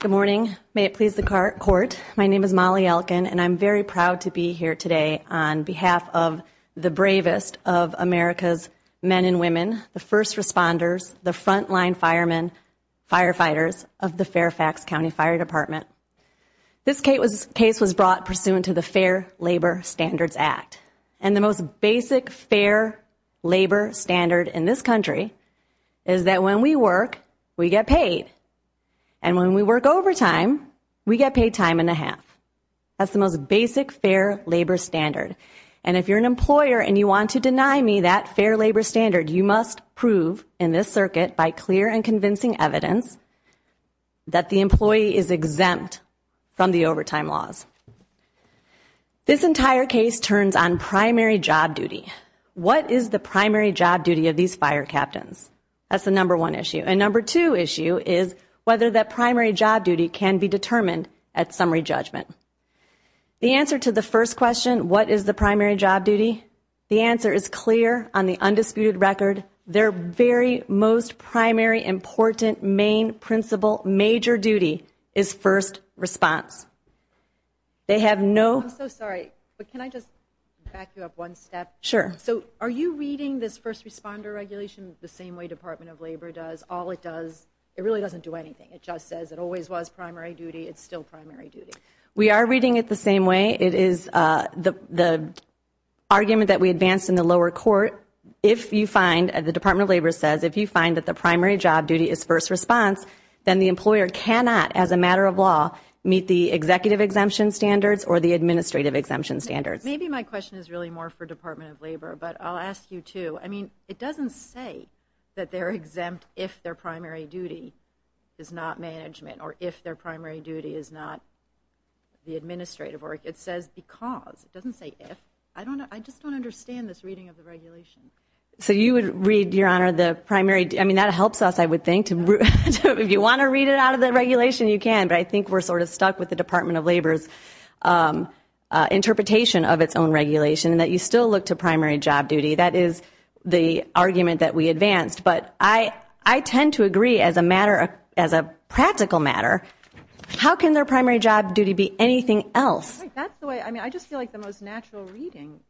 Good morning. May it please the court. My name is Molly Elkin, and I'm very proud to be here today on behalf of the bravest of America's men and women, the first responders, the frontline firemen, firefighters of the Fairfax County Fire Department. This case was brought pursuant to the Fair Labor Standards Act, and the most basic fair labor standard in this country is that when we work, we get paid. And when we work overtime, we get paid time and a half. That's the most basic fair labor standard. And if you're an employer and you want to deny me that fair labor standard, you must prove in this circuit by clear and convincing evidence that the employee is exempt from the overtime laws. This entire case turns on primary job duty. What is the primary job duty of these fire captains? That's the number one issue. And number two issue is whether that primary job duty can be determined at summary judgment. The answer to the first question, what is the primary job duty? The answer is clear on the undisputed record. Their very most primary important main principle major duty is first response. They have no. I'm so sorry, but can I just back you up one step? Sure. So are you reading this first responder regulation the same way Department of Labor does? All it does, it really doesn't do anything. It just says it always was primary duty. It's still primary duty. We are reading it the same way. It is the argument that we advanced in the lower court. If you find, the Department of Labor says, if you find that the primary job duty is first response, then the employer cannot, as a matter of law, meet the executive exemption standards or the administrative exemption standards. Maybe my question is really more for Department of Labor, but I'll ask you too. I mean, it doesn't say that they're exempt if their primary duty is not management or if their primary duty is not the administrative work. It says because it doesn't say if. I don't know. I just don't understand this reading of the regulation. So you would read, Your Honor, the primary. I mean, that helps us, I would think. If you want to read it out of the regulation, you can. But I think we're sort of stuck with the Department of Labor's interpretation of its own regulation and that you still look to primary job duty. That is the argument that we advanced. But I tend to agree, as a matter, as a practical matter, how can their primary job duty be anything else? That's the way, I mean, I just feel like the most natural reading,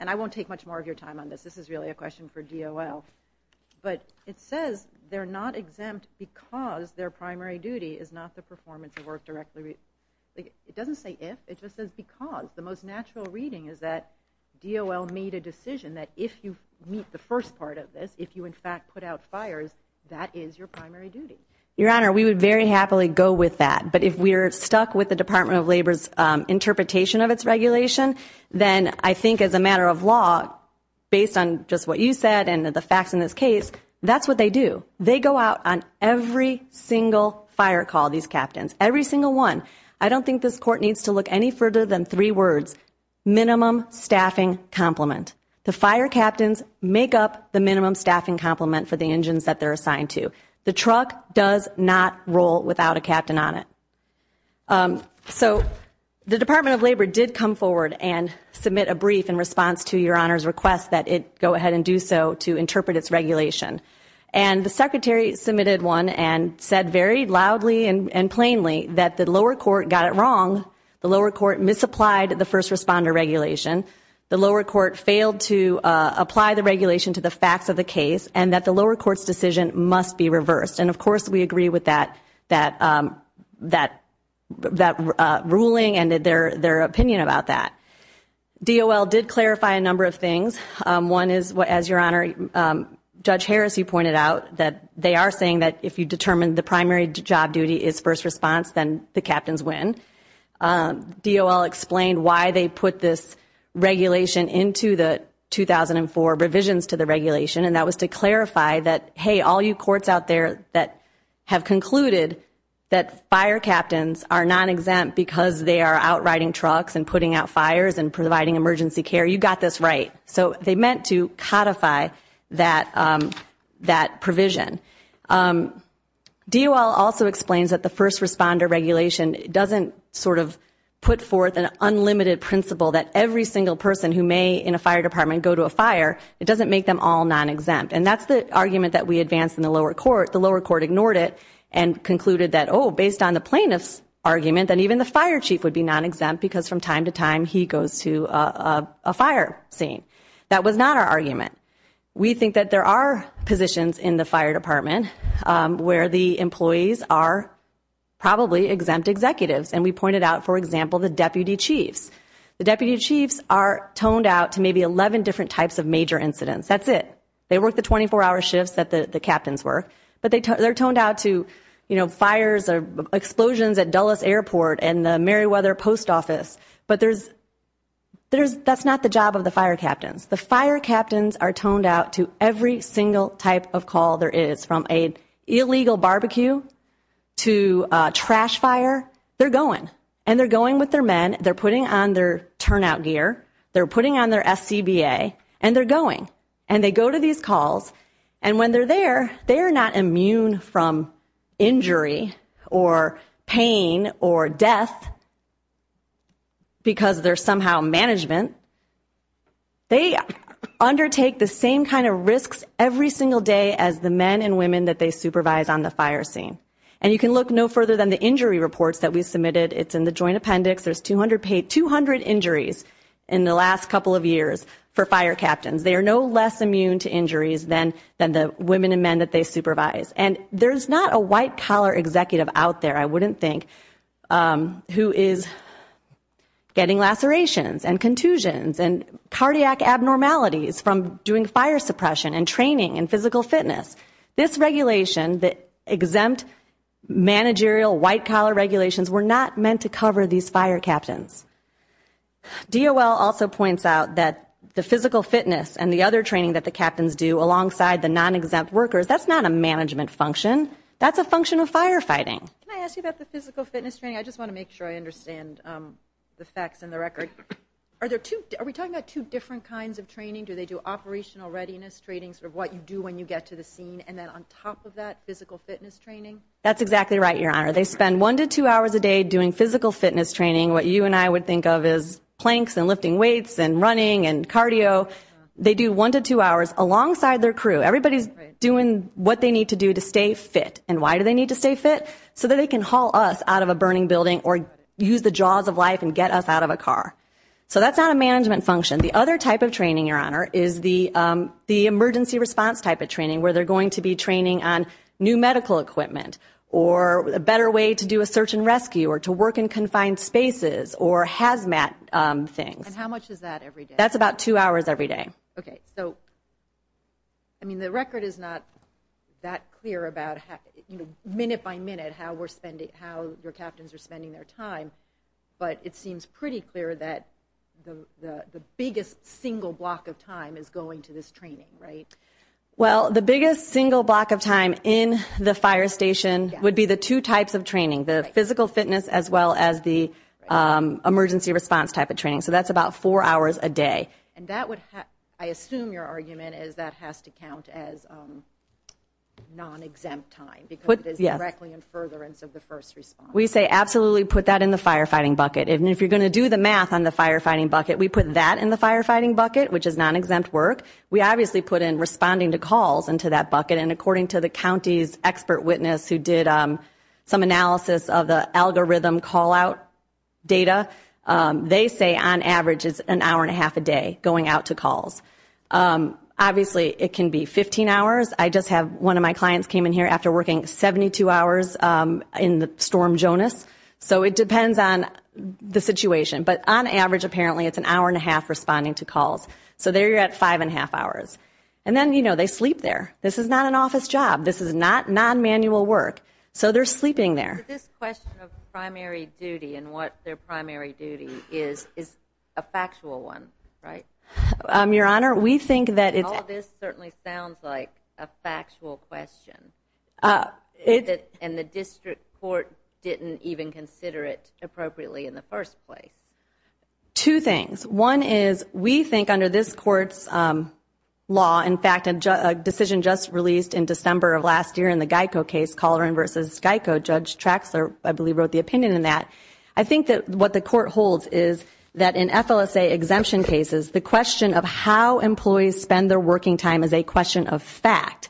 and I won't take much more of your time on this. This is really a question for DOL. But it says they're not exempt because their primary duty is not the performance of work directly. It doesn't say if, it just says because. The most natural reading is that DOL made a decision that if you meet the first part of this, if you, in fact, put out fires, that is your primary duty. Your Honor, we would very happily go with that. But if we're stuck with the Department of Labor's interpretation of its regulation, then I think as a matter of law, based on just what you said and the facts in this case, that's what they do. They go out on every single fire call, these captains. Every single one. I don't think this court needs to look any further than three words. Minimum staffing complement. The fire captains make up the minimum staffing complement for the engines that they're assigned to. The truck does not roll without a captain on it. So the Department of Labor did come forward and submit a brief in response to your Honor's request that it go ahead and do so to interpret its regulation. And the Secretary submitted one and said very loudly and plainly that the lower court got it wrong, the lower court misapplied the first responder regulation, the lower court failed to apply the regulation to the facts of the case, and that the lower court's decision must be reviewed. And of course we agree with that ruling and their opinion about that. DOL did clarify a number of things. One is, as your Honor, Judge Harris, you pointed out, that they are saying that if you determine the primary job duty is first response, then the captains win. DOL explained why they put this regulation into the 2004 revisions to the regulation, and that was to clarify that, hey, all you courts out there that have concluded that fire captains are non-exempt because they are out riding trucks and putting out fires and providing emergency care, you got this right. So they meant to codify that provision. DOL also explains that the first responder regulation doesn't sort of put forth an unlimited principle that every single person who may, in a fire department, go to a fire, it doesn't make them all non-exempt. And that's the argument that we advanced in the lower court. The lower court ignored it and concluded that, oh, based on the plaintiff's argument, that even the fire chief would be non-exempt because from time to time he goes to a fire scene. That was not our argument. We think that there are positions in the fire department where the employees are probably exempt executives. And we pointed out, for example, the deputy chiefs. The deputy chiefs are toned out to maybe 11 different types of major incidents. That's it. They work the 24-hour shifts that the captains work. But they're toned out to, you know, fires or explosions at Dulles Airport and the Meriwether Post Office. But that's not the job of the fire captains. The fire captains are toned out to every single type of call there is, from an illegal barbecue to a trash fire. They're going. And they're going with their men. They're putting on their turnout gear. They're putting on their SCBA. And they're going. And they go to these calls. And when they're there, they are not immune from injury or pain or death because they're somehow management. They undertake the same kind of risks every single day as the men and women that they supervise on the fire scene. And you can look no further than the injury reports that we submitted. It's in the joint appendix. There's 200 injuries in the last couple of years for fire captains. They are no less immune to injuries than the women and men that they supervise. And there's not a white-collar executive out there, I wouldn't think, who is getting lacerations and contusions. And cardiac abnormalities from doing fire suppression and training and physical fitness. This regulation, the exempt managerial white-collar regulations, were not meant to cover these fire captains. DOL also points out that the physical fitness and the other training that the captains do alongside the non-exempt workers, that's not a management function. That's a function of firefighting. Can I ask you about the physical fitness training? I just want to make sure I understand the facts and the record. Are we talking about two different kinds of training? Do they do operational readiness training, sort of what you do when you get to the scene, and then on top of that, physical fitness training? That's exactly right, Your Honor. They spend one to two hours a day doing physical fitness training. What you and I would think of as planks and lifting weights and running and cardio. They do one to two hours alongside their crew. Everybody's doing what they need to do to stay fit. And why do they need to stay fit? So that they can haul us out of a burning building or use the jaws of life and get us out of a car. So that's not a management function. The other type of training, Your Honor, is the emergency response type of training, where they're going to be training on new medical equipment, or a better way to do a search and rescue, or to work in confined spaces, or hazmat things. And how much is that every day? That's about two hours every day. Okay. So, I mean, the record is not that clear about, you know, minute by minute, how we're spending, how your captains are spending their time. But it seems pretty clear that the biggest single block of time is going to this training, right? Well, the biggest single block of time in the fire station would be the two types of training, the physical fitness as well as the emergency response type of training. So that's about four hours a day. And that would, I assume your argument is that has to count as non-exempt time, because it is directly in furtherance of the first response. We say absolutely put that in the firefighting bucket. And if you're going to do the math on the firefighting bucket, we put that in the firefighting bucket, which is non-exempt work. We obviously put in responding to calls into that bucket. And according to the county's expert witness who did some analysis of the algorithm call-out data, they say on average it's an hour and a half a day going out to calls. Obviously, it can be 15 hours. I just have one of my clients came in here after working 72 hours in the Storm Jonas. So it depends on the situation. But on average, apparently, it's an hour and a half responding to calls. So there you're at five and a half hours. And then, you know, they sleep there. This is not an office job. This is not non-manual work. So they're sleeping there. So this question of primary duty and what their primary duty is, is a factual one, right? Your Honor, we think that it's- All this certainly sounds like a factual question. And the district court didn't even consider it appropriately in the first place. Two things. One is we think under this court's law, in fact, a decision just released in December of last year in the GEICO case, Colloran v. GEICO, Judge Traxler, I believe, wrote the opinion in that. I think that what the court holds is that in FLSA exemption cases, the question of how employees spend their working time is a question of fact.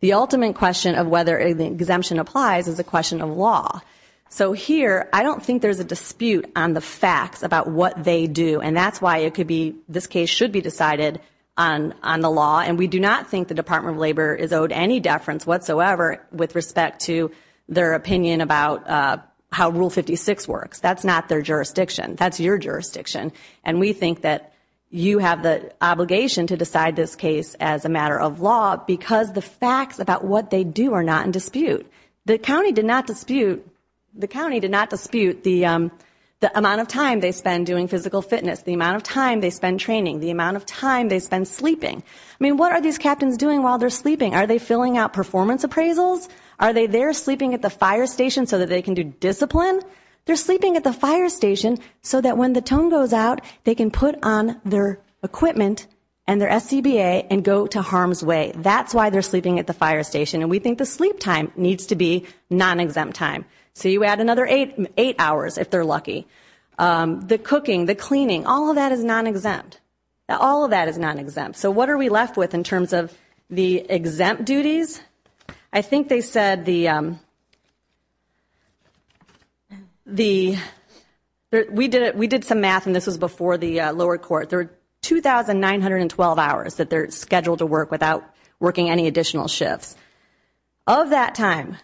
The ultimate question of whether exemption applies is a question of law. So here, I don't think there's a dispute on the facts about what they do. And that's why it could be- this case should be decided on the law. And we do not think the Department of Labor is owed any deference whatsoever with respect to their opinion about how Rule 56 works. That's not their jurisdiction. That's your jurisdiction. And we think that you have the obligation to decide this case as a matter of law because the facts about what they do are not in dispute. The county did not dispute- the county did not dispute the amount of time they spend doing physical fitness, the amount of time they spend training, the amount of time they spend sleeping. I mean, what are these captains doing while they're sleeping? Are they filling out performance appraisals? Are they there sleeping at the fire station so that they can do discipline? They're sleeping at the fire station so that when the tone goes out, they can put on their equipment and their SCBA and go to harm's way. That's why they're sleeping at the fire station. And we think the sleep time needs to be non-exempt time. So you add another eight hours if they're lucky. The cooking, the cleaning, all of that is non-exempt. All of that is non-exempt. So what are we left with in terms of the exempt duties? I think they said the- we did some math and this was before the lower court. There are 2,912 hours that they're scheduled to work without working any additional shifts. Of that time,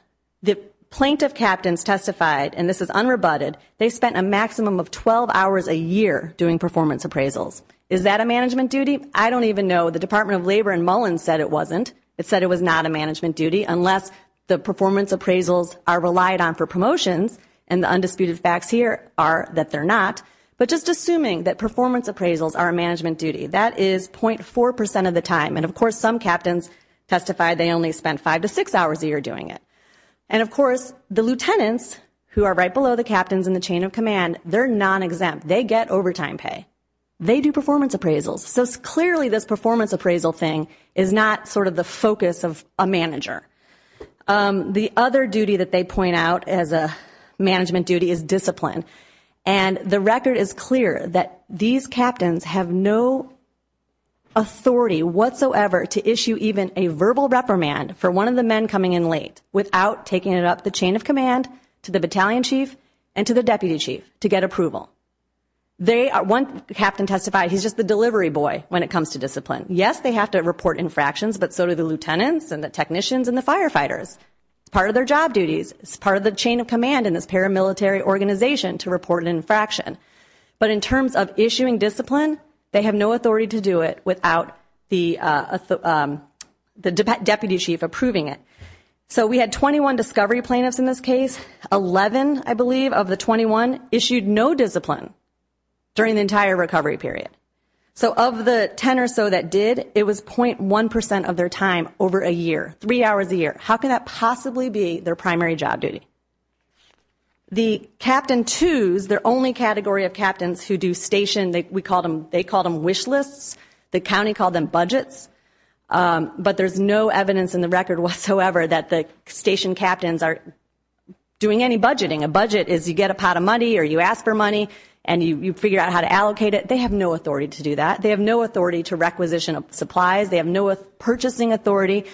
the plaintiff captains testified, and this is unrebutted, they spent a maximum of 12 hours a year doing performance appraisals. Is that a management duty? I don't even know. The Department of Labor in Mullins said it wasn't. It said it was not a management duty unless the performance appraisals are relied on for promotions, and the undisputed facts here are that they're not. But just assuming that performance appraisals are a management duty, that is .4% of the time. And of course, some captains testified they only spent five to six hours a year doing it. And of course, the lieutenants, who are right below the captains in the chain of command, they're non-exempt. They get overtime pay. They do performance appraisals. So clearly this performance appraisal thing is not sort of the focus of a manager. The other duty that they point out as a management duty is discipline. And the record is clear that these captains have no authority whatsoever to issue even a verbal reprimand for one of the men coming in late without taking it up the chain of command to the battalion chief and to the deputy chief to get approval. One captain testified he's just the delivery boy when it comes to discipline. Yes, they have to report infractions, but so do the lieutenants and the technicians and the firefighters. It's part of their job duties. It's part of the chain of command in this paramilitary organization to report an infraction. But in terms of issuing discipline, they have no authority to do it without the deputy chief approving it. So we had 21 discovery plaintiffs in this case. Eleven, I believe, of the 21 issued no discipline during the entire recovery period. So of the 10 or so that did, it was 0.1% of their time over a year. Three hours a year. How can that possibly be their primary job duty? The captain twos, their only category of captains who do station, they call them wish lists. The county called them budgets. But there's no evidence in the record whatsoever that the station captains are doing any budgeting. A budget is you get a pot of money or you ask for money and you figure out how to allocate it. They have no authority to do that. They have no authority to requisition supplies. They have no purchasing authority.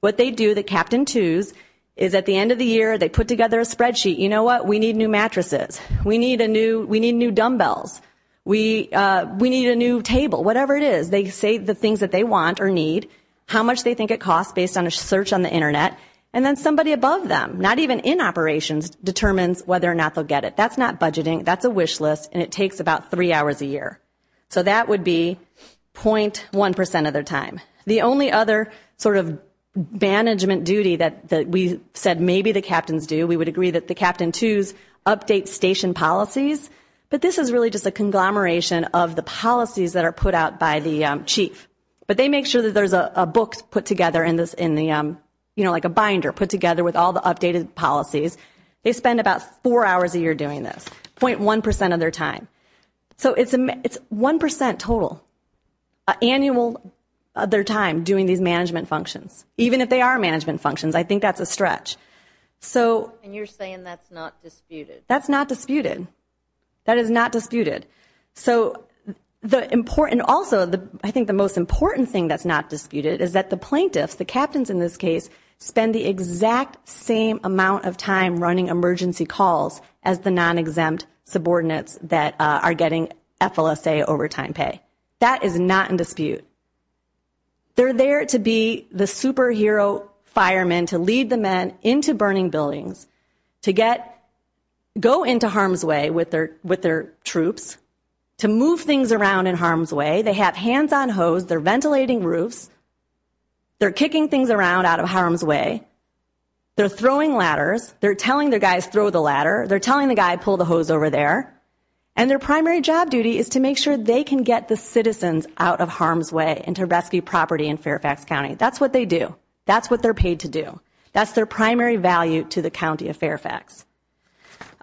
What they do, the captain twos, is at the end of the year they put together a spreadsheet. You know what? We need new mattresses. We need new dumbbells. We need a new table. Whatever it is. They say the things that they want or need, how much they think it costs based on a search on the Internet, and then somebody above them, not even in operations, determines whether or not they'll get it. That's not budgeting. That's a wish list and it takes about three hours a year. So that would be 0.1% of their time. The only other sort of management duty that we said maybe the captains do, we would agree that the captain twos update station policies, but this is really just a conglomeration of the policies that are put out by the chief. But they make sure that there's a book put together in the, you know, like a binder put together with all the updated policies. They spend about four hours a year doing this. 0.1% of their time. So it's 1% total annual of their time doing these management functions, even if they are management functions. I think that's a stretch. And you're saying that's not disputed. That's not disputed. That is not disputed. So the important also, I think the most important thing that's not disputed is that the plaintiffs, the captains in this case, spend the exact same amount of time running emergency calls as the non-exempt subordinates that are getting FLSA overtime pay. That is not in dispute. They're there to be the superhero firemen, to lead the men into burning buildings, to go into harm's way with their troops, to move things around in harm's way. They have hands on hose. They're ventilating roofs. They're kicking things around out of harm's way. They're throwing ladders. They're telling their guys throw the ladder. They're telling the guy pull the hose over there. And their primary job duty is to make sure they can get the citizens out of harm's way and to rescue property in Fairfax County. That's what they do. That's what they're paid to do. That's their primary value to the County of Fairfax.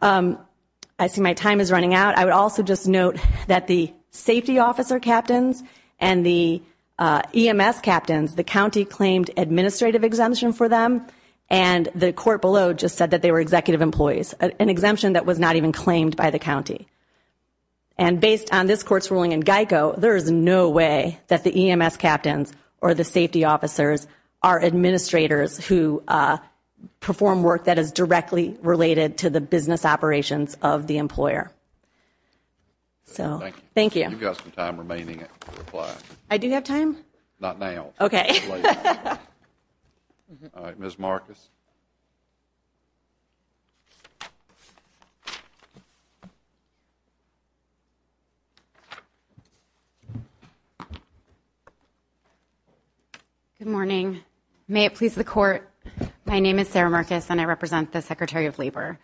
I see my time is running out. I would also just note that the safety officer captains and the EMS captains, the county claimed administrative exemption for them. And the court below just said that they were executive employees. An exemption that was not even claimed by the county. And based on this court's ruling in Geico, there is no way that the EMS captains or the safety officers are administrators who perform work that is directly related to the business operations of the employer. So, thank you. You've got some time remaining to reply. I do have time? Not now. Okay. All right, Ms. Marcus. Good morning. May it please the court. My name is Sarah Marcus and I represent the Secretary of Labor.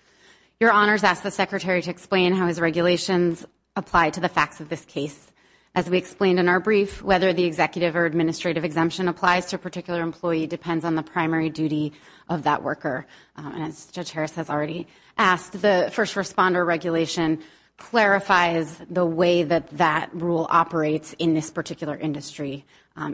Your Honors asked the Secretary to explain how his regulations apply to the facts of this case. As we explained in our brief, whether the executive or administrative exemption applies to a particular employee depends on the primary duty of that worker. And as Judge Harris has already asked, the first responder regulation clarifies the way that that rule operates in this particular industry.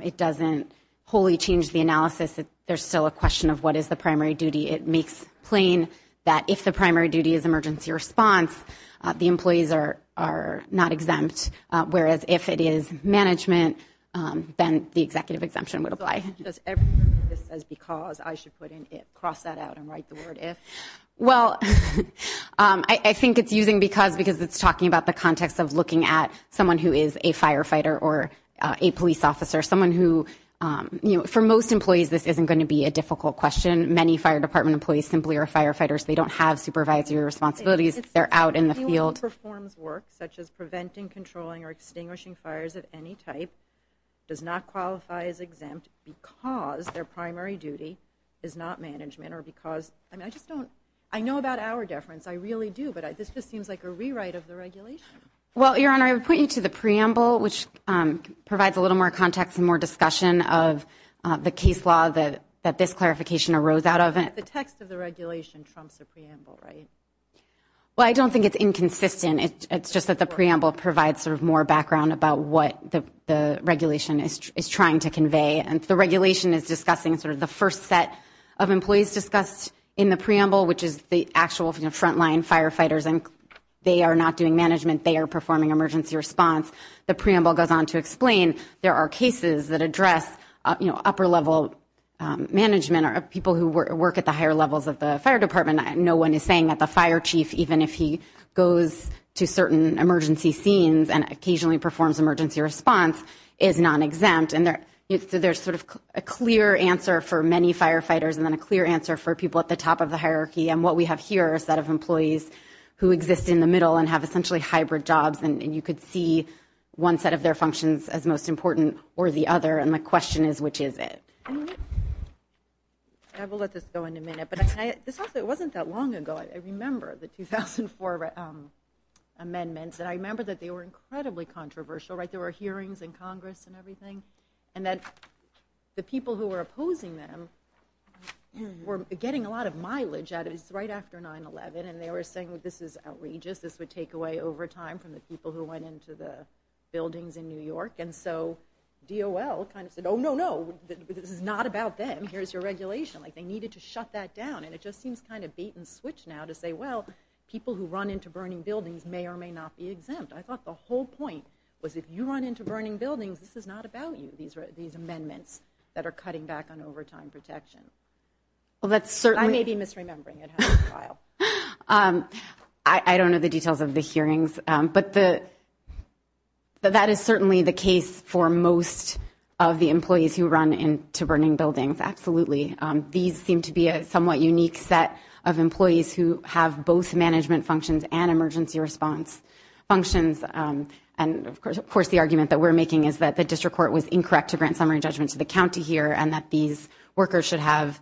It doesn't wholly change the analysis. There's still a question of what is the primary duty. It makes plain that if the primary duty is emergency response, the employees are not exempt, whereas if it is management, then the executive exemption would apply. Does everything this says because, I should put in it, cross that out and write the word if? Well, I think it's using because because it's talking about the context of looking at someone who is a firefighter or a police officer, someone who, you know, for most employees this isn't going to be a difficult question. Many fire department employees simply are firefighters. They don't have supervisory responsibilities. They're out in the field, performs work such as preventing, controlling or extinguishing fires of any type. Does not qualify as exempt because their primary duty is not management or because I mean, I just don't I know about our deference. I really do. But this just seems like a rewrite of the regulation. Well, Your Honor, I would point you to the preamble, which provides a little more context and more discussion of the case law that that this clarification arose out of it. The text of the regulation trumps the preamble, right? Well, I don't think it's inconsistent. It's just that the preamble provides sort of more background about what the regulation is trying to convey. And the regulation is discussing sort of the first set of employees discussed in the preamble, which is the actual front line firefighters. And they are not doing management. They are performing emergency response. The preamble goes on to explain there are cases that address upper level management of people who work at the higher levels of the fire department. No one is saying that the fire chief, even if he goes to certain emergency scenes and occasionally performs emergency response, is not exempt. And there's sort of a clear answer for many firefighters and then a clear answer for people at the top of the hierarchy. And what we have here is that of employees who exist in the middle and have essentially hybrid jobs. And you could see one set of their functions as most important or the other. And my question is, which is it? I will let this go in a minute, but it wasn't that long ago. I remember the 2004 amendments and I remember that they were incredibly controversial, right? It was right after 9-11 and they were saying, well, this is outrageous. This would take away overtime from the people who went into the buildings in New York. And so DOL kind of said, oh, no, no, this is not about them. Here's your regulation. Like they needed to shut that down. And it just seems kind of bait and switch now to say, well, people who run into burning buildings may or may not be exempt. I thought the whole point was if you run into burning buildings, this is not about you, these amendments that are cutting back on overtime protection. I may be misremembering it. I don't know the details of the hearings, but that is certainly the case for most of the employees who run into burning buildings. Absolutely. These seem to be a somewhat unique set of employees who have both management functions and emergency response functions. And, of course, the argument that we're making is that the district court was incorrect to grant summary judgment to the county here and that these workers should have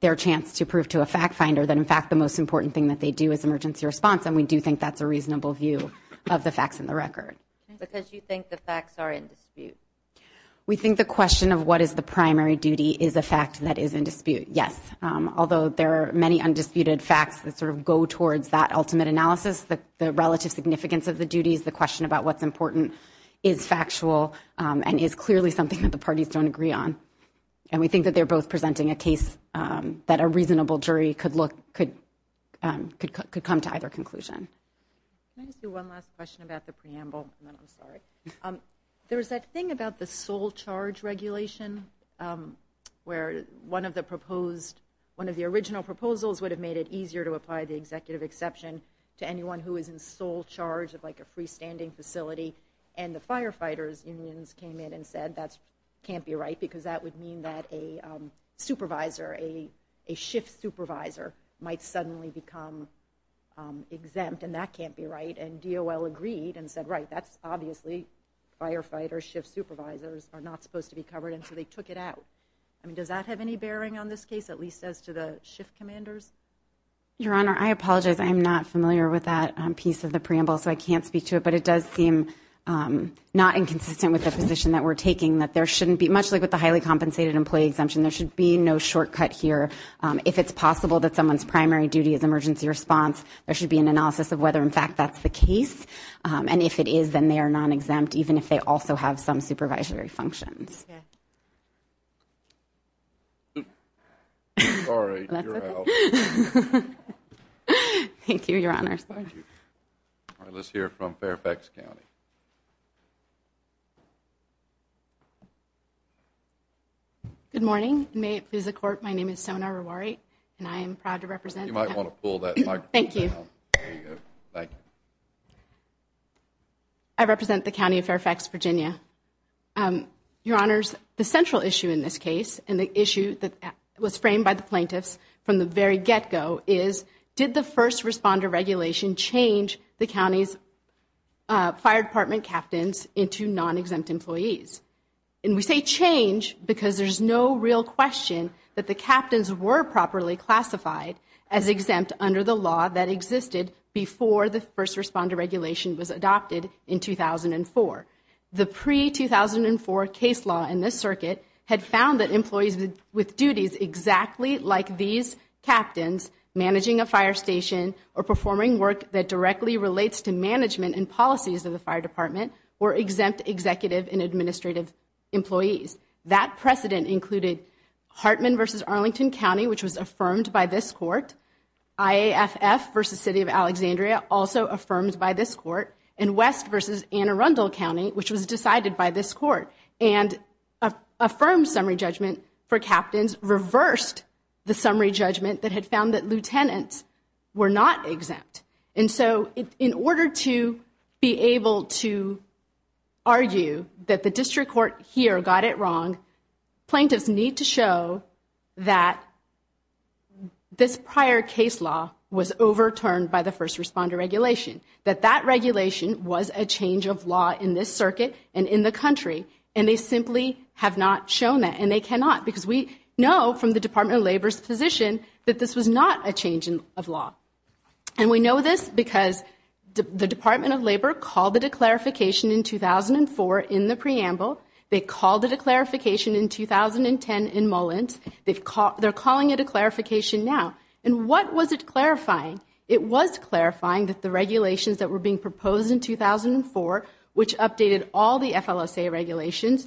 their chance to prove to a fact finder that, in fact, the most important thing that they do is emergency response. And we do think that's a reasonable view of the facts in the record. Because you think the facts are in dispute. We think the question of what is the primary duty is a fact that is in dispute. Yes. Although there are many undisputed facts that sort of go towards that ultimate analysis, the relative significance of the duties, the question about what's important is factual and is clearly something that the parties don't agree on. And we think that they're both presenting a case that a reasonable jury could look could could could come to either conclusion. One last question about the preamble. I'm sorry. There is that thing about the sole charge regulation where one of the proposed one of the original proposals would have made it easier to apply the executive exception to anyone who is in sole charge of like a freestanding facility. And the firefighters unions came in and said that can't be right, because that would mean that a supervisor, a shift supervisor might suddenly become exempt. And that can't be right. And DOL agreed and said, right, that's obviously firefighters, shift supervisors are not supposed to be covered. And so they took it out. I mean, does that have any bearing on this case, at least as to the shift commanders? Your Honor, I apologize. I am not familiar with that piece of the preamble, so I can't speak to it. But it does seem not inconsistent with the position that we're taking, that there shouldn't be much like with the highly compensated employee exemption. There should be no shortcut here. If it's possible that someone's primary duty is emergency response. There should be an analysis of whether, in fact, that's the case. And if it is, then they are not exempt, even if they also have some supervisory functions. Yeah. All right. Thank you, Your Honor. All right. Let's hear from Fairfax County. Good morning. May it please the court. My name is Sona Rewari and I am proud to represent. You might want to pull that. Thank you. Thank you. I represent the county of Fairfax, Virginia. Your Honors, the central issue in this case and the issue that was framed by the plaintiffs from the very get go is, did the first responder regulation change the county's fire department captains into non-exempt employees? And we say change because there's no real question that the captains were properly classified as exempt under the law that existed before the first responder regulation was adopted in 2004. The pre-2004 case law in this circuit had found that employees with duties exactly like these captains, managing a fire station or performing work that directly relates to management and policies of the fire department, were exempt executive and administrative employees. That precedent included Hartman v. Arlington County, which was affirmed by this court. IAFF v. City of Alexandria, also affirmed by this court. And West v. Anne Arundel County, which was decided by this court and affirmed summary judgment for captains, reversed the summary judgment that had found that lieutenants were not exempt. And so in order to be able to argue that the district court here got it wrong, plaintiffs need to show that this prior case law was overturned by the first responder regulation, that that regulation was a change of law in this circuit and in the country, and they simply have not shown that. And they cannot, because we know from the Department of Labor's position that this was not a change of law. And we know this because the Department of Labor called it a clarification in 2004 in the preamble. They called it a clarification in 2010 in Mullins. They're calling it a clarification now. And what was it clarifying? It was clarifying that the regulations that were being proposed in 2004, which updated all the FLSA regulations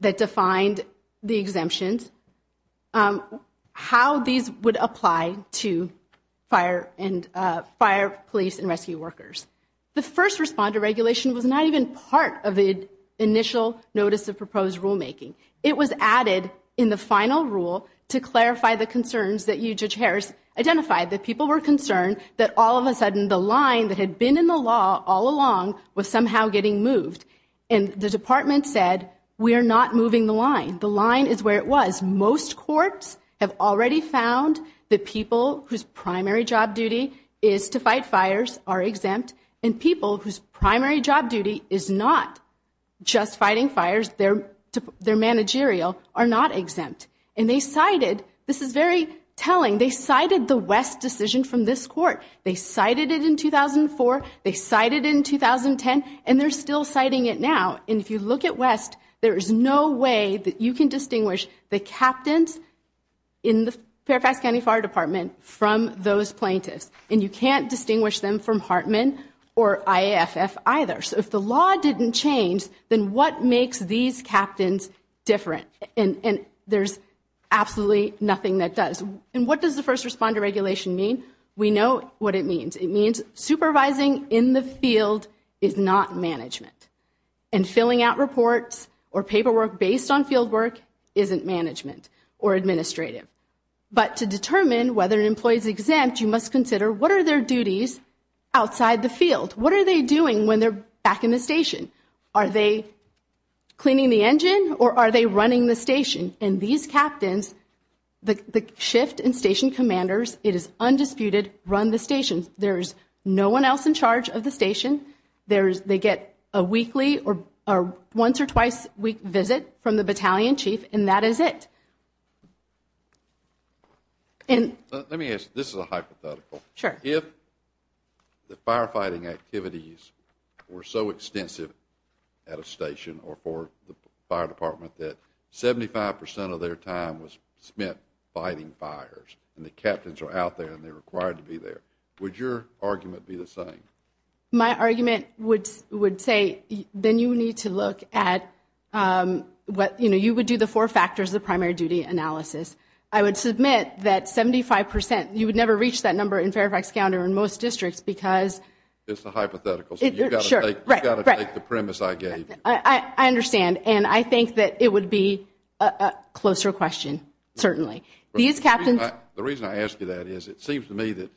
that defined the exemptions, how these would apply to fire and fire police and rescue workers. The first responder regulation was not even part of the initial notice of proposed rulemaking. It was added in the final rule to clarify the concerns that you, Judge Harris, identified that people were concerned that all of a sudden the line that had been in the law all along was somehow getting moved. And the department said, we are not moving the line. The line is where it was. Most courts have already found that people whose primary job duty is to fight fires are exempt, and people whose primary job duty is not just fighting fires, their managerial, are not exempt. And they cited, this is very telling, they cited the West decision from this court. They cited it in 2004, they cited it in 2010, and they're still citing it now. And if you look at West, there is no way that you can distinguish the captains in the Fairfax County Fire Department from those plaintiffs. And you can't distinguish them from Hartman or IAFF either. So if the law didn't change, then what makes these captains different? And there's absolutely nothing that does. And what does the First Responder Regulation mean? We know what it means. It means supervising in the field is not management. And filling out reports or paperwork based on fieldwork isn't management or administrative. But to determine whether an employee is exempt, you must consider what are their duties outside the field? What are they doing when they're back in the station? Are they cleaning the engine or are they running the station? And these captains, the shift and station commanders, it is undisputed, run the station. There is no one else in charge of the station. They get a weekly or once or twice a week visit from the battalion chief, and that is it. Let me ask, this is a hypothetical. Sure. If the firefighting activities were so extensive at a station or for the fire department that 75 percent of their time was spent fighting fires and the captains are out there and they're required to be there, would your argument be the same? My argument would say then you need to look at what, you know, you would do the four factors of primary duty analysis. I would submit that 75 percent, you would never reach that number in Fairfax County or in most districts because. It's a hypothetical. Sure. You've got to take the premise I gave you. I understand. And I think that it would be a closer question, certainly. These captains. The reason I ask you that is it seems to me that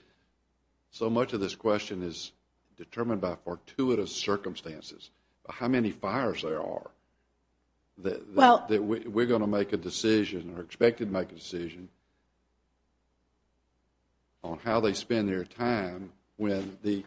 so much of this question is determined by fortuitous circumstances. How many fires there are that we're going to make a decision or expect to make a decision on how they spend their time when the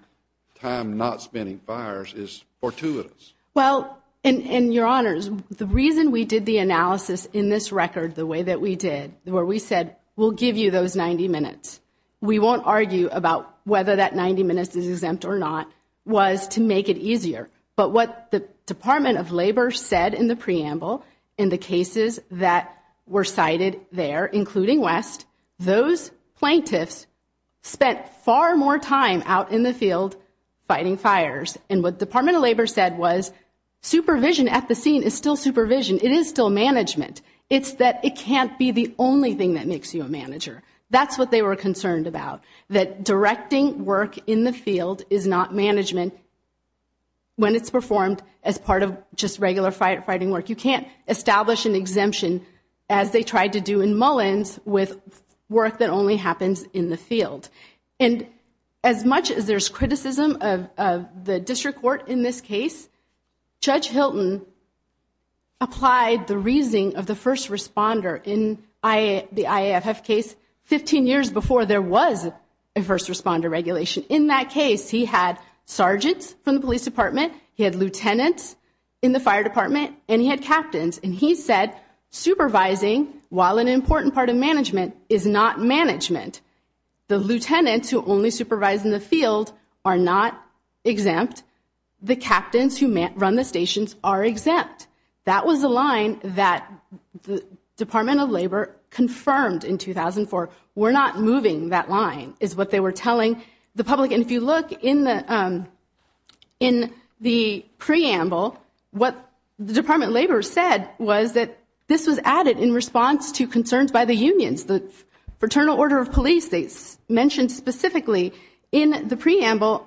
time not spending fires is fortuitous. Well, and your honors, the reason we did the analysis in this record the way that we did, where we said we'll give you those 90 minutes, we won't argue about whether that 90 minutes is exempt or not, was to make it easier. But what the Department of Labor said in the preamble, in the cases that were cited there, including West, those plaintiffs spent far more time out in the field fighting fires. And what the Department of Labor said was supervision at the scene is still supervision. It is still management. It's that it can't be the only thing that makes you a manager. That's what they were concerned about, that directing work in the field is not management when it's performed as part of just regular firefighting work. You can't establish an exemption, as they tried to do in Mullins, with work that only happens in the field. And as much as there's criticism of the district court in this case, Judge Hilton applied the reasoning of the first responder in the IAFF case 15 years before there was a first responder regulation. In that case, he had sergeants from the police department, he had lieutenants in the fire department, and he had captains. And he said supervising, while an important part of management, is not management. The lieutenants who only supervise in the field are not exempt. The captains who run the stations are exempt. That was the line that the Department of Labor confirmed in 2004. We're not moving that line, is what they were telling the public. And if you look in the preamble, what the Department of Labor said was that this was added in response to concerns by the unions. The Fraternal Order of Police states, mentioned specifically in the preamble,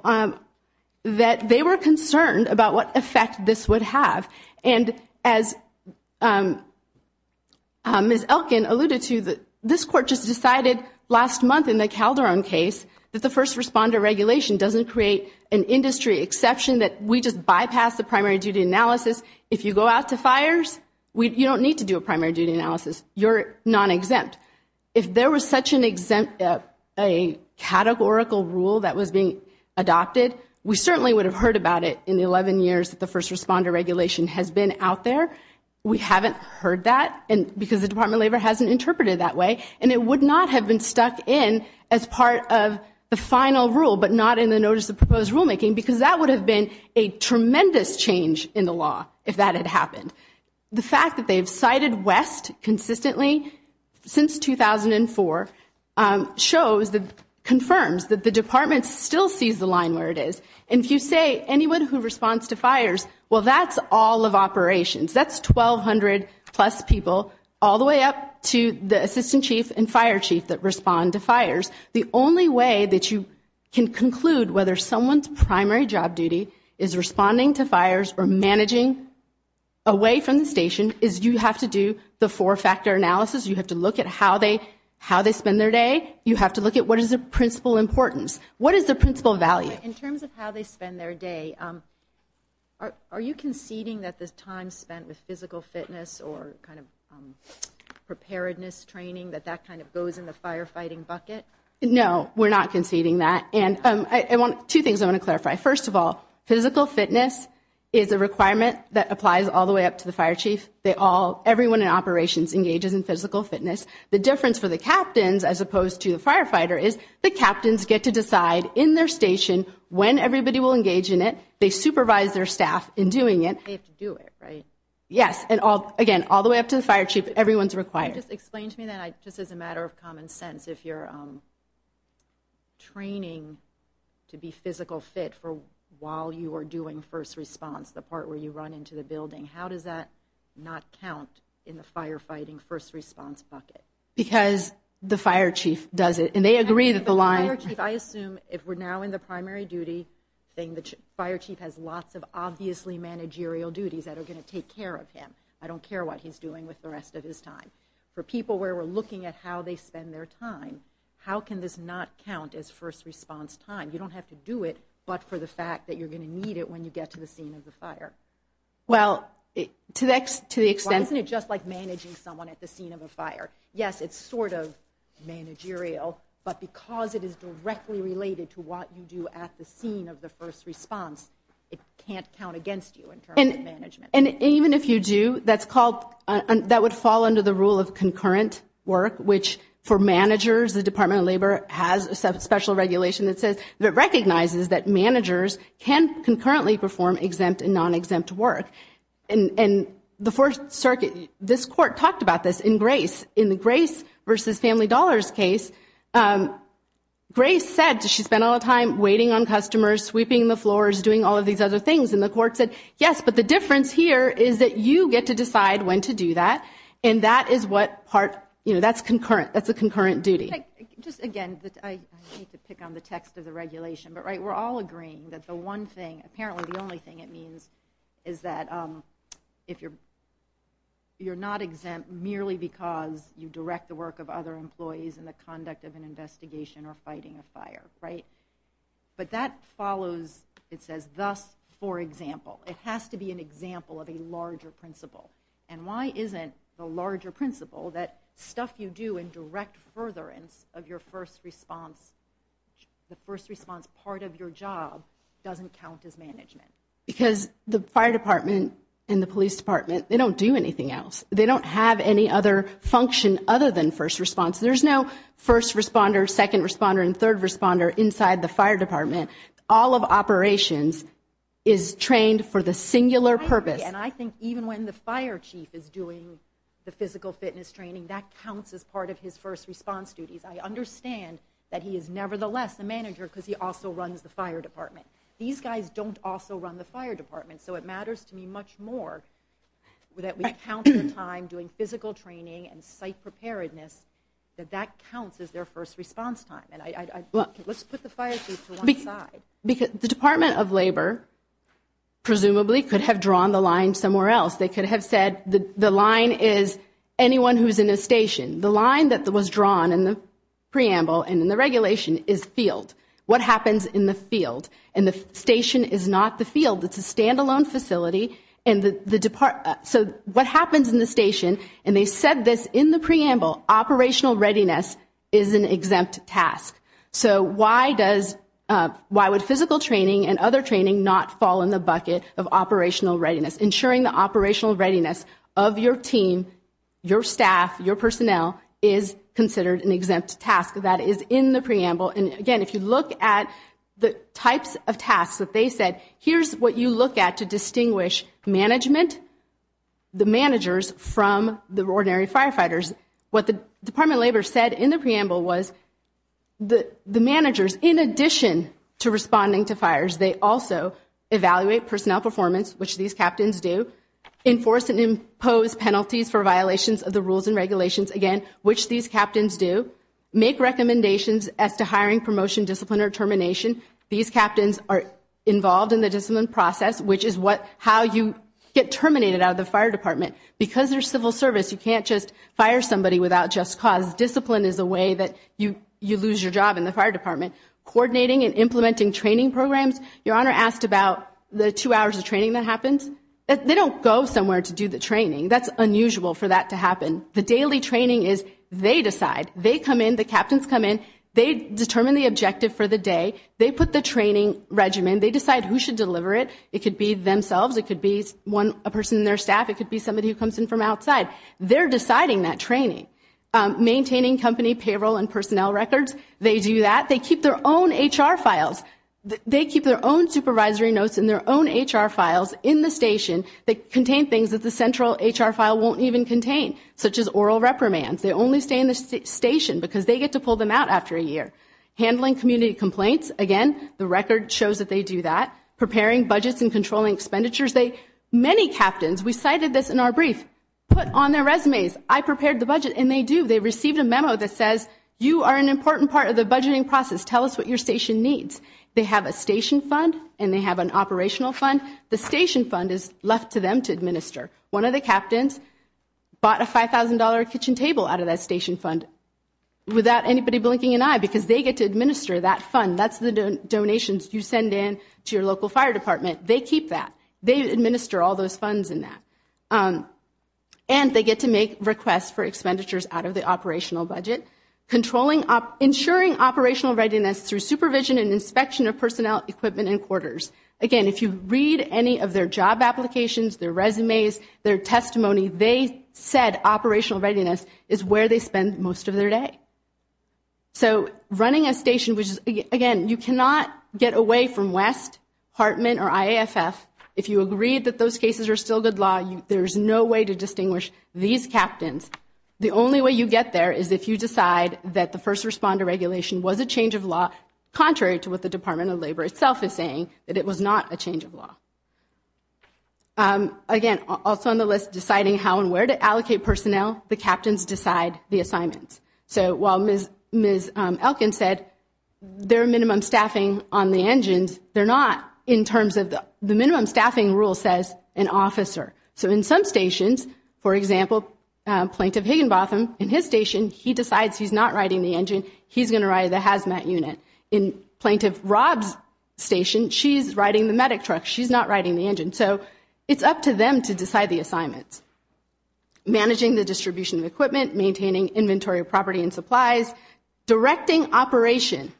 that they were concerned about what effect this would have. And as Ms. Elkin alluded to, this court just decided last month in the Calderon case that the first responder regulation doesn't create an industry exception that we just bypass the primary duty analysis. If you go out to fires, you don't need to do a primary duty analysis. You're non-exempt. If there was such a categorical rule that was being adopted, we certainly would have heard about it in the 11 years that the first responder regulation has been out there. We haven't heard that because the Department of Labor hasn't interpreted it that way, and it would not have been stuck in as part of the final rule but not in the notice of proposed rulemaking because that would have been a tremendous change in the law if that had happened. The fact that they've cited West consistently since 2004 confirms that the department still sees the line where it is. And if you say anyone who responds to fires, well, that's all of operations. That's 1,200-plus people all the way up to the assistant chief and fire chief that respond to fires. The only way that you can conclude whether someone's primary job duty is responding to fires or managing away from the station is you have to do the four-factor analysis. You have to look at how they spend their day. You have to look at what is the principal importance. What is the principal value? In terms of how they spend their day, are you conceding that the time spent with physical fitness or preparedness training, that that kind of goes in the firefighting bucket? No, we're not conceding that. And two things I want to clarify. First of all, physical fitness is a requirement that applies all the way up to the fire chief. Everyone in operations engages in physical fitness. The difference for the captains as opposed to the firefighter is the captains get to decide in their station when everybody will engage in it. They supervise their staff in doing it. They have to do it, right? Yes, and again, all the way up to the fire chief, everyone's required. Can you just explain to me that just as a matter of common sense, if you're training to be physical fit while you are doing first response, the part where you run into the building, how does that not count in the firefighting first response bucket? Because the fire chief does it, and they agree that the line... The fire chief, I assume, if we're now in the primary duty thing, the fire chief has lots of obviously managerial duties that are going to take care of him. I don't care what he's doing with the rest of his time. For people where we're looking at how they spend their time, how can this not count as first response time? You don't have to do it but for the fact that you're going to need it when you get to the scene of the fire. Well, to the extent... Yes, it's sort of managerial, but because it is directly related to what you do at the scene of the first response, it can't count against you in terms of management. And even if you do, that would fall under the rule of concurrent work, which for managers, the Department of Labor has a special regulation that recognizes that managers can concurrently perform exempt and non-exempt work. And the Fourth Circuit, this court talked about this in Grace. In the Grace v. Family Dollars case, Grace said she spent all the time waiting on customers, sweeping the floors, doing all of these other things, and the court said, yes, but the difference here is that you get to decide when to do that, and that is what part... That's a concurrent duty. Just again, I hate to pick on the text of the regulation, but we're all agreeing that the one thing, apparently the only thing it means is that you're not exempt merely because you direct the work of other employees in the conduct of an investigation or fighting a fire, right? But that follows, it says, thus for example. It has to be an example of a larger principle. And why isn't the larger principle that stuff you do in direct furtherance of your first response, the first response part of your job, doesn't count as management? Because the fire department and the police department, they don't do anything else. They don't have any other function other than first response. There's no first responder, second responder, and third responder inside the fire department. All of operations is trained for the singular purpose. I agree, and I think even when the fire chief is doing the physical fitness training, that counts as part of his first response duties. I understand that he is nevertheless a manager because he also runs the fire department. These guys don't also run the fire department, so it matters to me much more that we count the time doing physical training and site preparedness that that counts as their first response time. Let's put the fire chief to one side. The Department of Labor presumably could have drawn the line somewhere else. They could have said the line is anyone who's in a station. The line that was drawn in the preamble and in the regulation is field. What happens in the field? And the station is not the field. It's a standalone facility. So what happens in the station? And they said this in the preamble. Operational readiness is an exempt task. So why would physical training and other training not fall in the bucket of operational readiness? Ensuring the operational readiness of your team, your staff, your personnel, is considered an exempt task. That is in the preamble. And, again, if you look at the types of tasks that they said, here's what you look at to distinguish management, the managers, from the ordinary firefighters. What the Department of Labor said in the preamble was the managers, in addition to responding to fires, they also evaluate personnel performance, which these captains do, enforce and impose penalties for violations of the rules and regulations, again, which these captains do, make recommendations as to hiring, promotion, discipline, or termination. These captains are involved in the discipline process, which is how you get terminated out of the fire department. Because they're civil service, you can't just fire somebody without just cause. Discipline is a way that you lose your job in the fire department. Coordinating and implementing training programs. Your Honor asked about the two hours of training that happens. They don't go somewhere to do the training. That's unusual for that to happen. The daily training is they decide. They come in. The captains come in. They determine the objective for the day. They put the training regimen. They decide who should deliver it. It could be themselves. It could be a person in their staff. It could be somebody who comes in from outside. They're deciding that training. Maintaining company payroll and personnel records. They do that. They keep their own HR files. They keep their own supervisory notes and their own HR files in the station that contain things that the central HR file won't even contain, such as oral reprimands. They only stay in the station because they get to pull them out after a year. Handling community complaints. Again, the record shows that they do that. Preparing budgets and controlling expenditures. Many captains, we cited this in our brief, put on their resumes, I prepared the budget, and they do. They received a memo that says you are an important part of the budgeting process. Tell us what your station needs. They have a station fund and they have an operational fund. The station fund is left to them to administer. One of the captains bought a $5,000 kitchen table out of that station fund without anybody blinking an eye because they get to administer that fund. That's the donations you send in to your local fire department. They keep that. They administer all those funds in that. And they get to make requests for expenditures out of the operational budget. Ensuring operational readiness through supervision and inspection of personnel, equipment, and quarters. Again, if you read any of their job applications, their resumes, their testimony, they said operational readiness is where they spend most of their day. So running a station, again, you cannot get away from West, Hartman, or IAFF. If you agree that those cases are still good law, there's no way to distinguish these captains. The only way you get there is if you decide that the first responder regulation was a change of law contrary to what the Department of Labor itself is saying, that it was not a change of law. Again, also on the list, deciding how and where to allocate personnel. The captains decide the assignments. So while Ms. Elkin said there are minimum staffing on the engines, they're not in terms of the minimum staffing rule says an officer. So in some stations, for example, Plaintiff Higginbotham, in his station, he decides he's not riding the engine, he's going to ride the hazmat unit. In Plaintiff Rob's station, she's riding the medic truck, she's not riding the engine. So it's up to them to decide the assignments. Managing the distribution of equipment, maintaining inventory of property and supplies, directing operations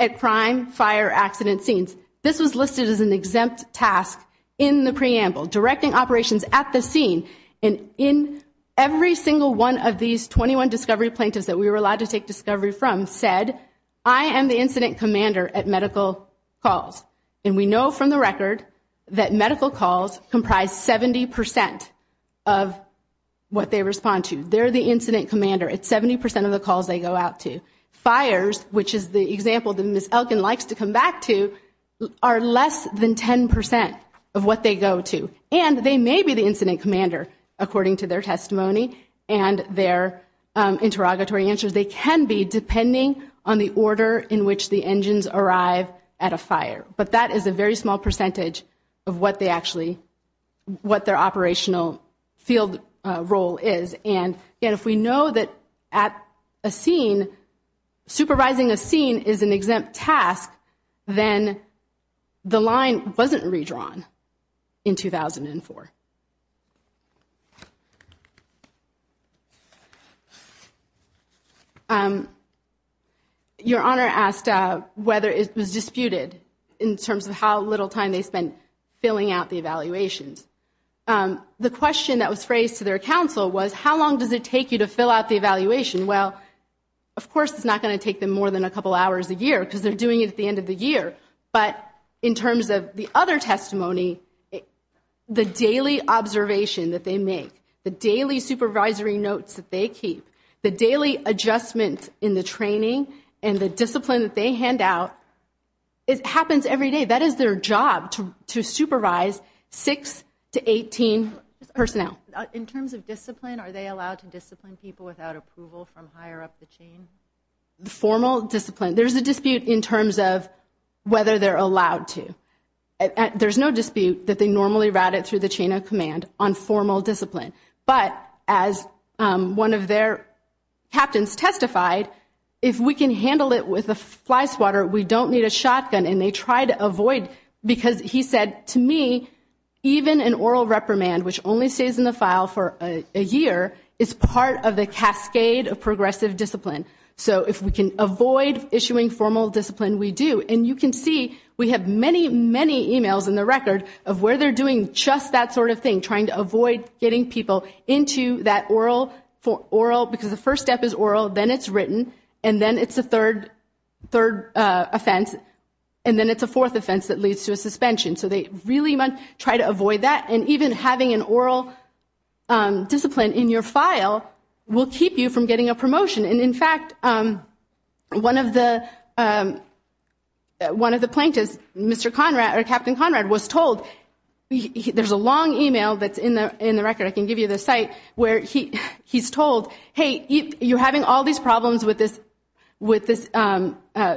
at crime, fire, accident scenes. This was listed as an exempt task in the preamble, directing operations at the scene. And in every single one of these 21 discovery plaintiffs that we were allowed to take discovery from said, I am the incident commander at medical calls. And we know from the record that medical calls comprise 70% of what they respond to. They're the incident commander at 70% of the calls they go out to. Fires, which is the example that Ms. Elkin likes to come back to, are less than 10% of what they go to. And they may be the incident commander, according to their testimony and their interrogatory answers. They can be, depending on the order in which the engines arrive at a fire. But that is a very small percentage of what they actually, what their operational field role is. And, again, if we know that at a scene, supervising a scene is an exempt task, then the line wasn't redrawn in 2004. Your Honor asked whether it was disputed in terms of how little time they spent filling out the evaluations. The question that was raised to their counsel was, how long does it take you to fill out the evaluation? Well, of course it's not going to take them more than a couple hours a year because they're doing it at the end of the year. But in terms of the other testimony, the daily observation that they make, the daily supervisory notes that they keep, the daily adjustment in the training and the discipline that they hand out, it happens every day. That is their job to supervise 6 to 18 personnel. In terms of discipline, are they allowed to discipline people without approval from higher up the chain? Formal discipline, there's a dispute in terms of whether they're allowed to. There's no dispute that they normally route it through the chain of command on formal discipline. But as one of their captains testified, if we can handle it with a fly swatter, we don't need a shotgun, and they try to avoid. Because he said, to me, even an oral reprimand, which only stays in the file for a year, is part of the cascade of progressive discipline. So if we can avoid issuing formal discipline, we do. And you can see, we have many, many emails in the record of where they're doing just that sort of thing, trying to avoid getting people into that oral, because the first step is oral, then it's written, and then it's a third offense, and then it's a fourth offense that leads to a suspension. So they really try to avoid that. And even having an oral discipline in your file will keep you from getting a promotion. And in fact, one of the plaintiffs, Mr. Conrad, or Captain Conrad, was told, there's a long email that's in the record, I can give you the site, where he's told, hey, you're having all these problems with this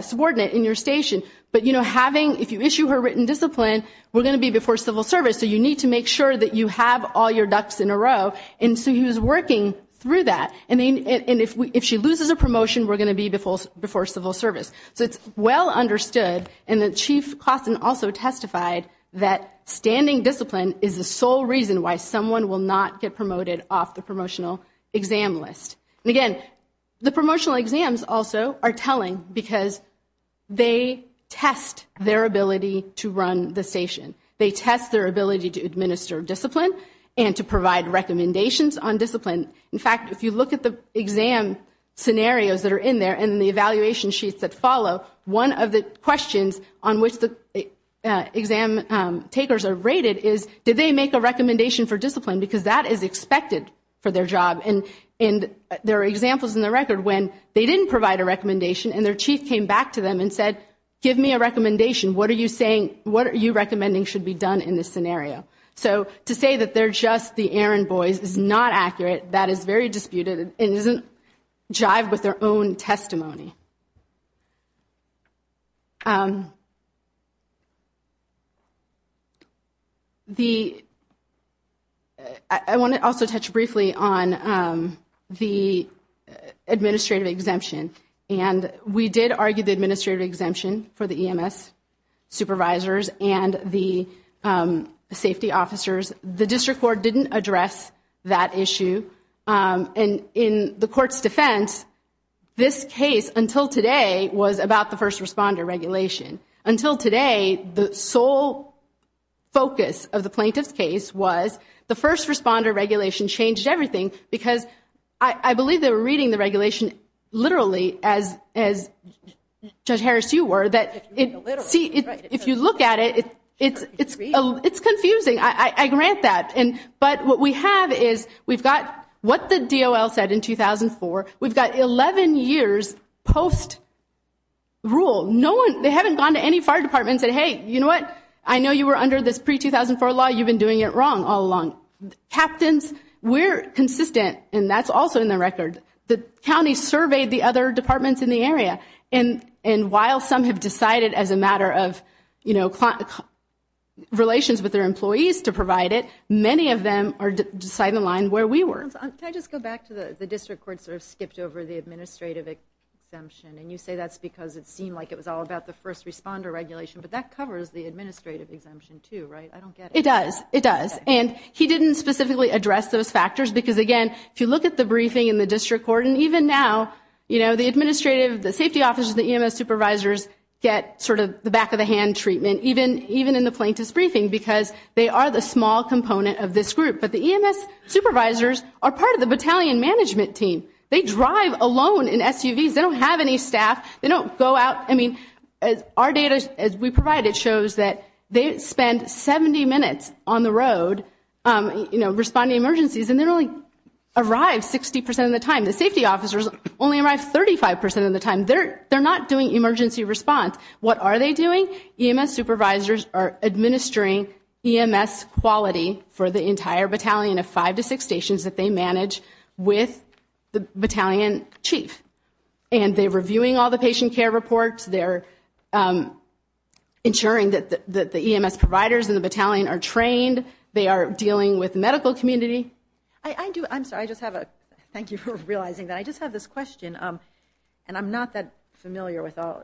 subordinate in your station, but if you issue her written discipline, we're going to be before civil service, so you need to make sure that you have all your ducks in a row. And so he was working through that. And if she loses a promotion, we're going to be before civil service. So it's well understood, and the Chief Klaassen also testified, that standing discipline is the sole reason why someone will not get promoted off the promotional exam list. And again, the promotional exams also are telling, because they test their ability to run the station. They test their ability to administer discipline and to provide recommendations on discipline. In fact, if you look at the exam scenarios that are in there and the evaluation sheets that follow, one of the questions on which the exam takers are rated is, did they make a recommendation for discipline, because that is expected for their job. And there are examples in the record when they didn't provide a recommendation, and their chief came back to them and said, give me a recommendation. What are you saying, what are you recommending should be done in this scenario? So to say that they're just the errand boys is not accurate. That is very disputed and doesn't jive with their own testimony. I want to also touch briefly on the administrative exemption. And we did argue the administrative exemption for the EMS supervisors and the safety officers. The district court didn't address that issue. And in the court's defense, this case until today was about the first responder regulation. Until today, the sole focus of the plaintiff's case was the first responder regulation changed everything, because I believe they were reading the regulation literally as Judge Harris, you were. If you look at it, it's confusing. I grant that. But what we have is we've got what the DOL said in 2004. We've got 11 years post-rule. They haven't gone to any fire department and said, hey, you know what, I know you were under this pre-2004 law. You've been doing it wrong all along. Captains, we're consistent, and that's also in the record. The county surveyed the other departments in the area. And while some have decided as a matter of relations with their employees to provide it, many of them are deciding the line where we were. Can I just go back to the district court sort of skipped over the administrative exemption? And you say that's because it seemed like it was all about the first responder regulation. But that covers the administrative exemption too, right? I don't get it. It does. It does. And he didn't specifically address those factors because, again, if you look at the briefing in the district court, and even now, you know, the administrative, the safety officers, the EMS supervisors get sort of the back-of-the-hand treatment, even in the plaintiff's briefing, because they are the small component of this group. But the EMS supervisors are part of the battalion management team. They drive alone in SUVs. They don't have any staff. They don't go out. I mean, our data, as we provide it, shows that they spend 70 minutes on the road, you know, responding to emergencies, and they only arrive 60 percent of the time. The safety officers only arrive 35 percent of the time. They're not doing emergency response. What are they doing? EMS supervisors are administering EMS quality for the entire battalion of five to six stations that they manage with the battalion chief. And they're reviewing all the patient care reports. They're ensuring that the EMS providers in the battalion are trained. They are dealing with the medical community. I do – I'm sorry, I just have a – thank you for realizing that. I just have this question, and I'm not that familiar with all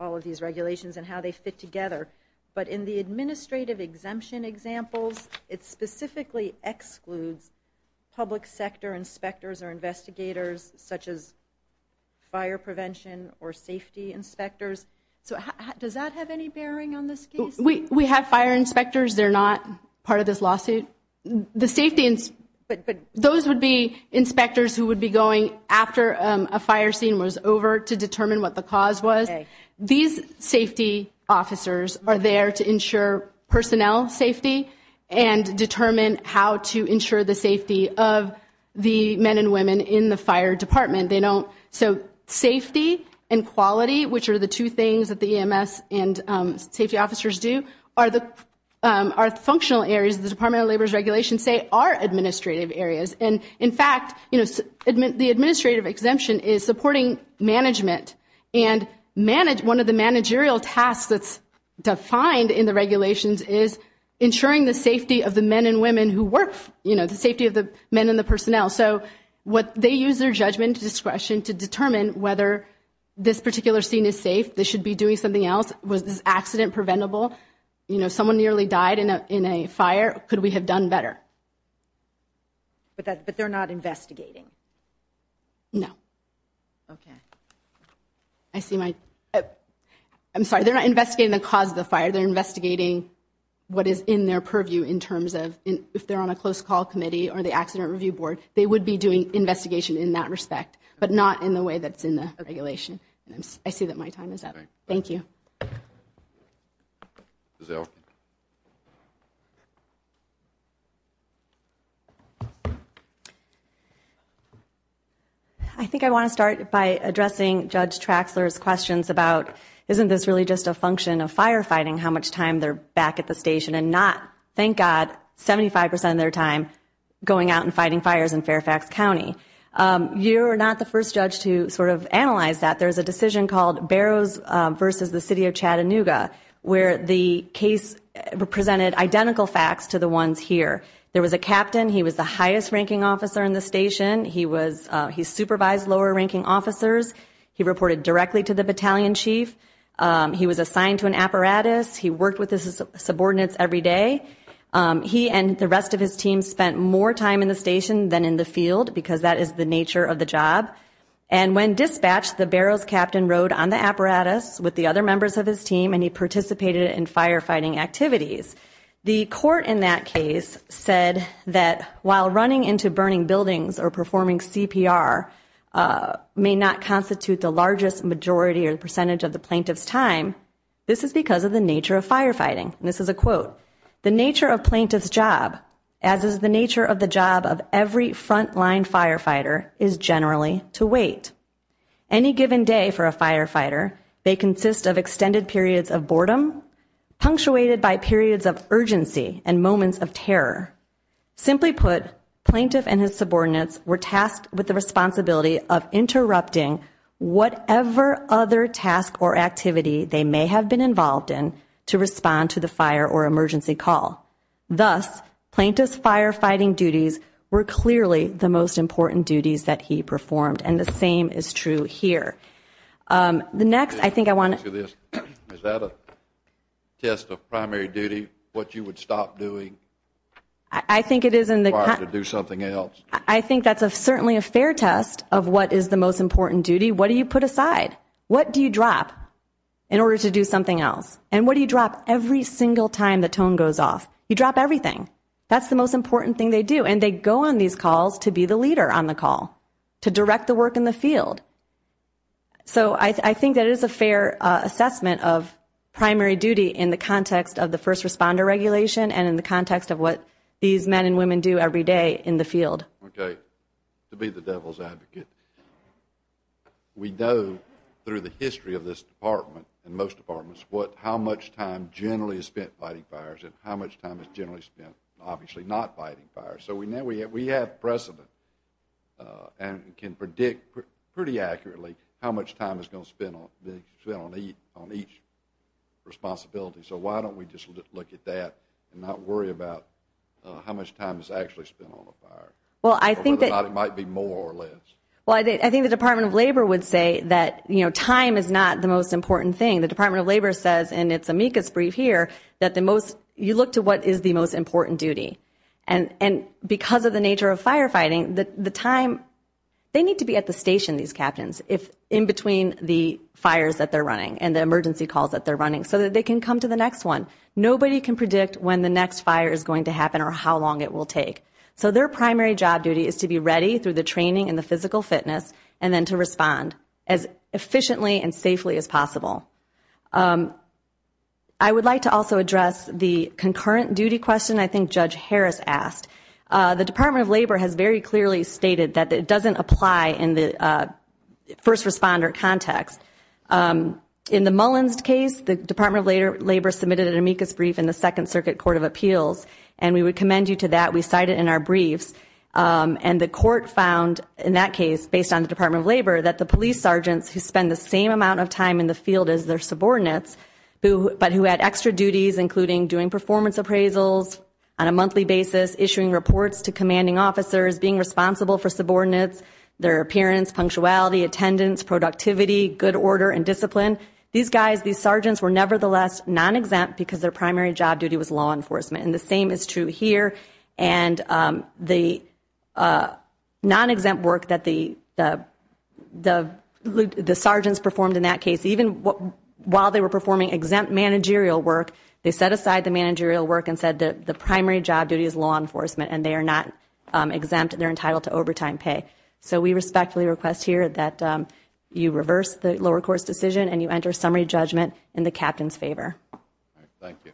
of these regulations and how they fit together, but in the administrative exemption examples, it specifically excludes public sector inspectors or investigators, such as fire prevention or safety inspectors. So does that have any bearing on this case? We have fire inspectors. They're not part of this lawsuit. The safety – but those would be inspectors who would be going after a fire scene was over to determine what the cause was. These safety officers are there to ensure personnel safety and determine how to ensure the safety of the men and women in the fire department. They don't – so safety and quality, which are the two things that the EMS and safety officers do, are the functional areas the Department of Labor's regulations say are administrative areas. And, in fact, the administrative exemption is supporting management, and one of the managerial tasks that's defined in the regulations is ensuring the safety of the men and women who work, you know, the safety of the men and the personnel. So they use their judgment and discretion to determine whether this particular scene is safe, they should be doing something else, was this accident preventable? You know, someone nearly died in a fire. Could we have done better? But they're not investigating? No. Okay. I see my – I'm sorry, they're not investigating the cause of the fire. They're investigating what is in their purview in terms of if they're on a close call committee or the Accident Review Board, they would be doing investigation in that respect, but not in the way that's in the regulation. I see that my time is up. Thank you. Ms. Elkin. I think I want to start by addressing Judge Traxler's questions about isn't this really just a function of firefighting, how much time they're back at the station and not, thank God, 75% of their time going out and fighting fires in Fairfax County. You're not the first judge to sort of analyze that. There's a decision called Barrows v. the City of Chattanooga where the case presented identical facts to the ones here. There was a captain. He was the highest-ranking officer in the station. He supervised lower-ranking officers. He reported directly to the battalion chief. He was assigned to an apparatus. He worked with his subordinates every day. He and the rest of his team spent more time in the station than in the field because that is the nature of the job. And when dispatched, the Barrows captain rode on the apparatus with the other members of his team and he participated in firefighting activities. The court in that case said that while running into burning buildings or performing CPR may not constitute the largest majority or percentage of the plaintiff's time, this is because of the nature of firefighting. And this is a quote, The nature of plaintiff's job, as is the nature of the job of every front-line firefighter, is generally to wait. Any given day for a firefighter, they consist of extended periods of boredom, punctuated by periods of urgency and moments of terror. Simply put, plaintiff and his subordinates were tasked with the responsibility of interrupting whatever other task or activity they may have been involved in to respond to the fire or emergency call. Thus, plaintiff's firefighting duties were clearly the most important duties that he performed, and the same is true here. The next, I think I want to Is that a test of primary duty, what you would stop doing? I think it is in the To do something else. I think that's certainly a fair test of what is the most important duty. What do you put aside? What do you drop in order to do something else? And what do you drop every single time the tone goes off? You drop everything. That's the most important thing they do, and they go on these calls to be the leader on the call, to direct the work in the field. So I think that is a fair assessment of primary duty in the context of the first responder regulation and in the context of what these men and women do every day in the field. Okay. To be the devil's advocate, we know through the history of this department and most departments how much time generally is spent fighting fires and how much time is generally spent obviously not fighting fires. So we know we have precedent and can predict pretty accurately how much time is going to be spent on each responsibility. So why don't we just look at that and not worry about how much time is actually spent on a fire or whether or not it might be more or less. Well, I think the Department of Labor would say that time is not the most important thing. The Department of Labor says, and it's amicus brief here, that you look to what is the most important duty. And because of the nature of firefighting, they need to be at the station, these captains, in between the fires that they're running and the emergency calls that they're running so that they can come to the next one. Nobody can predict when the next fire is going to happen or how long it will take. So their primary job duty is to be ready through the training and the physical fitness and then to respond as efficiently and safely as possible. I would like to also address the concurrent duty question I think Judge Harris asked. The Department of Labor has very clearly stated that it doesn't apply in the first responder context. In the Mullins case, the Department of Labor submitted an amicus brief in the Second Circuit Court of Appeals, and we would commend you to that. We cite it in our briefs. And the court found in that case, based on the Department of Labor, that the police sergeants who spend the same amount of time in the field as their subordinates, but who had extra duties including doing performance appraisals on a monthly basis, issuing reports to commanding officers, being responsible for subordinates, their appearance, punctuality, attendance, productivity, good order, and discipline, these guys, these sergeants, were nevertheless non-exempt because their primary job duty was law enforcement. And the same is true here. And the non-exempt work that the sergeants performed in that case, even while they were performing exempt managerial work, they set aside the managerial work and said the primary job duty is law enforcement and they are not exempt, they're entitled to overtime pay. So we respectfully request here that you reverse the lower-course decision and you enter summary judgment in the captain's favor. Thank you.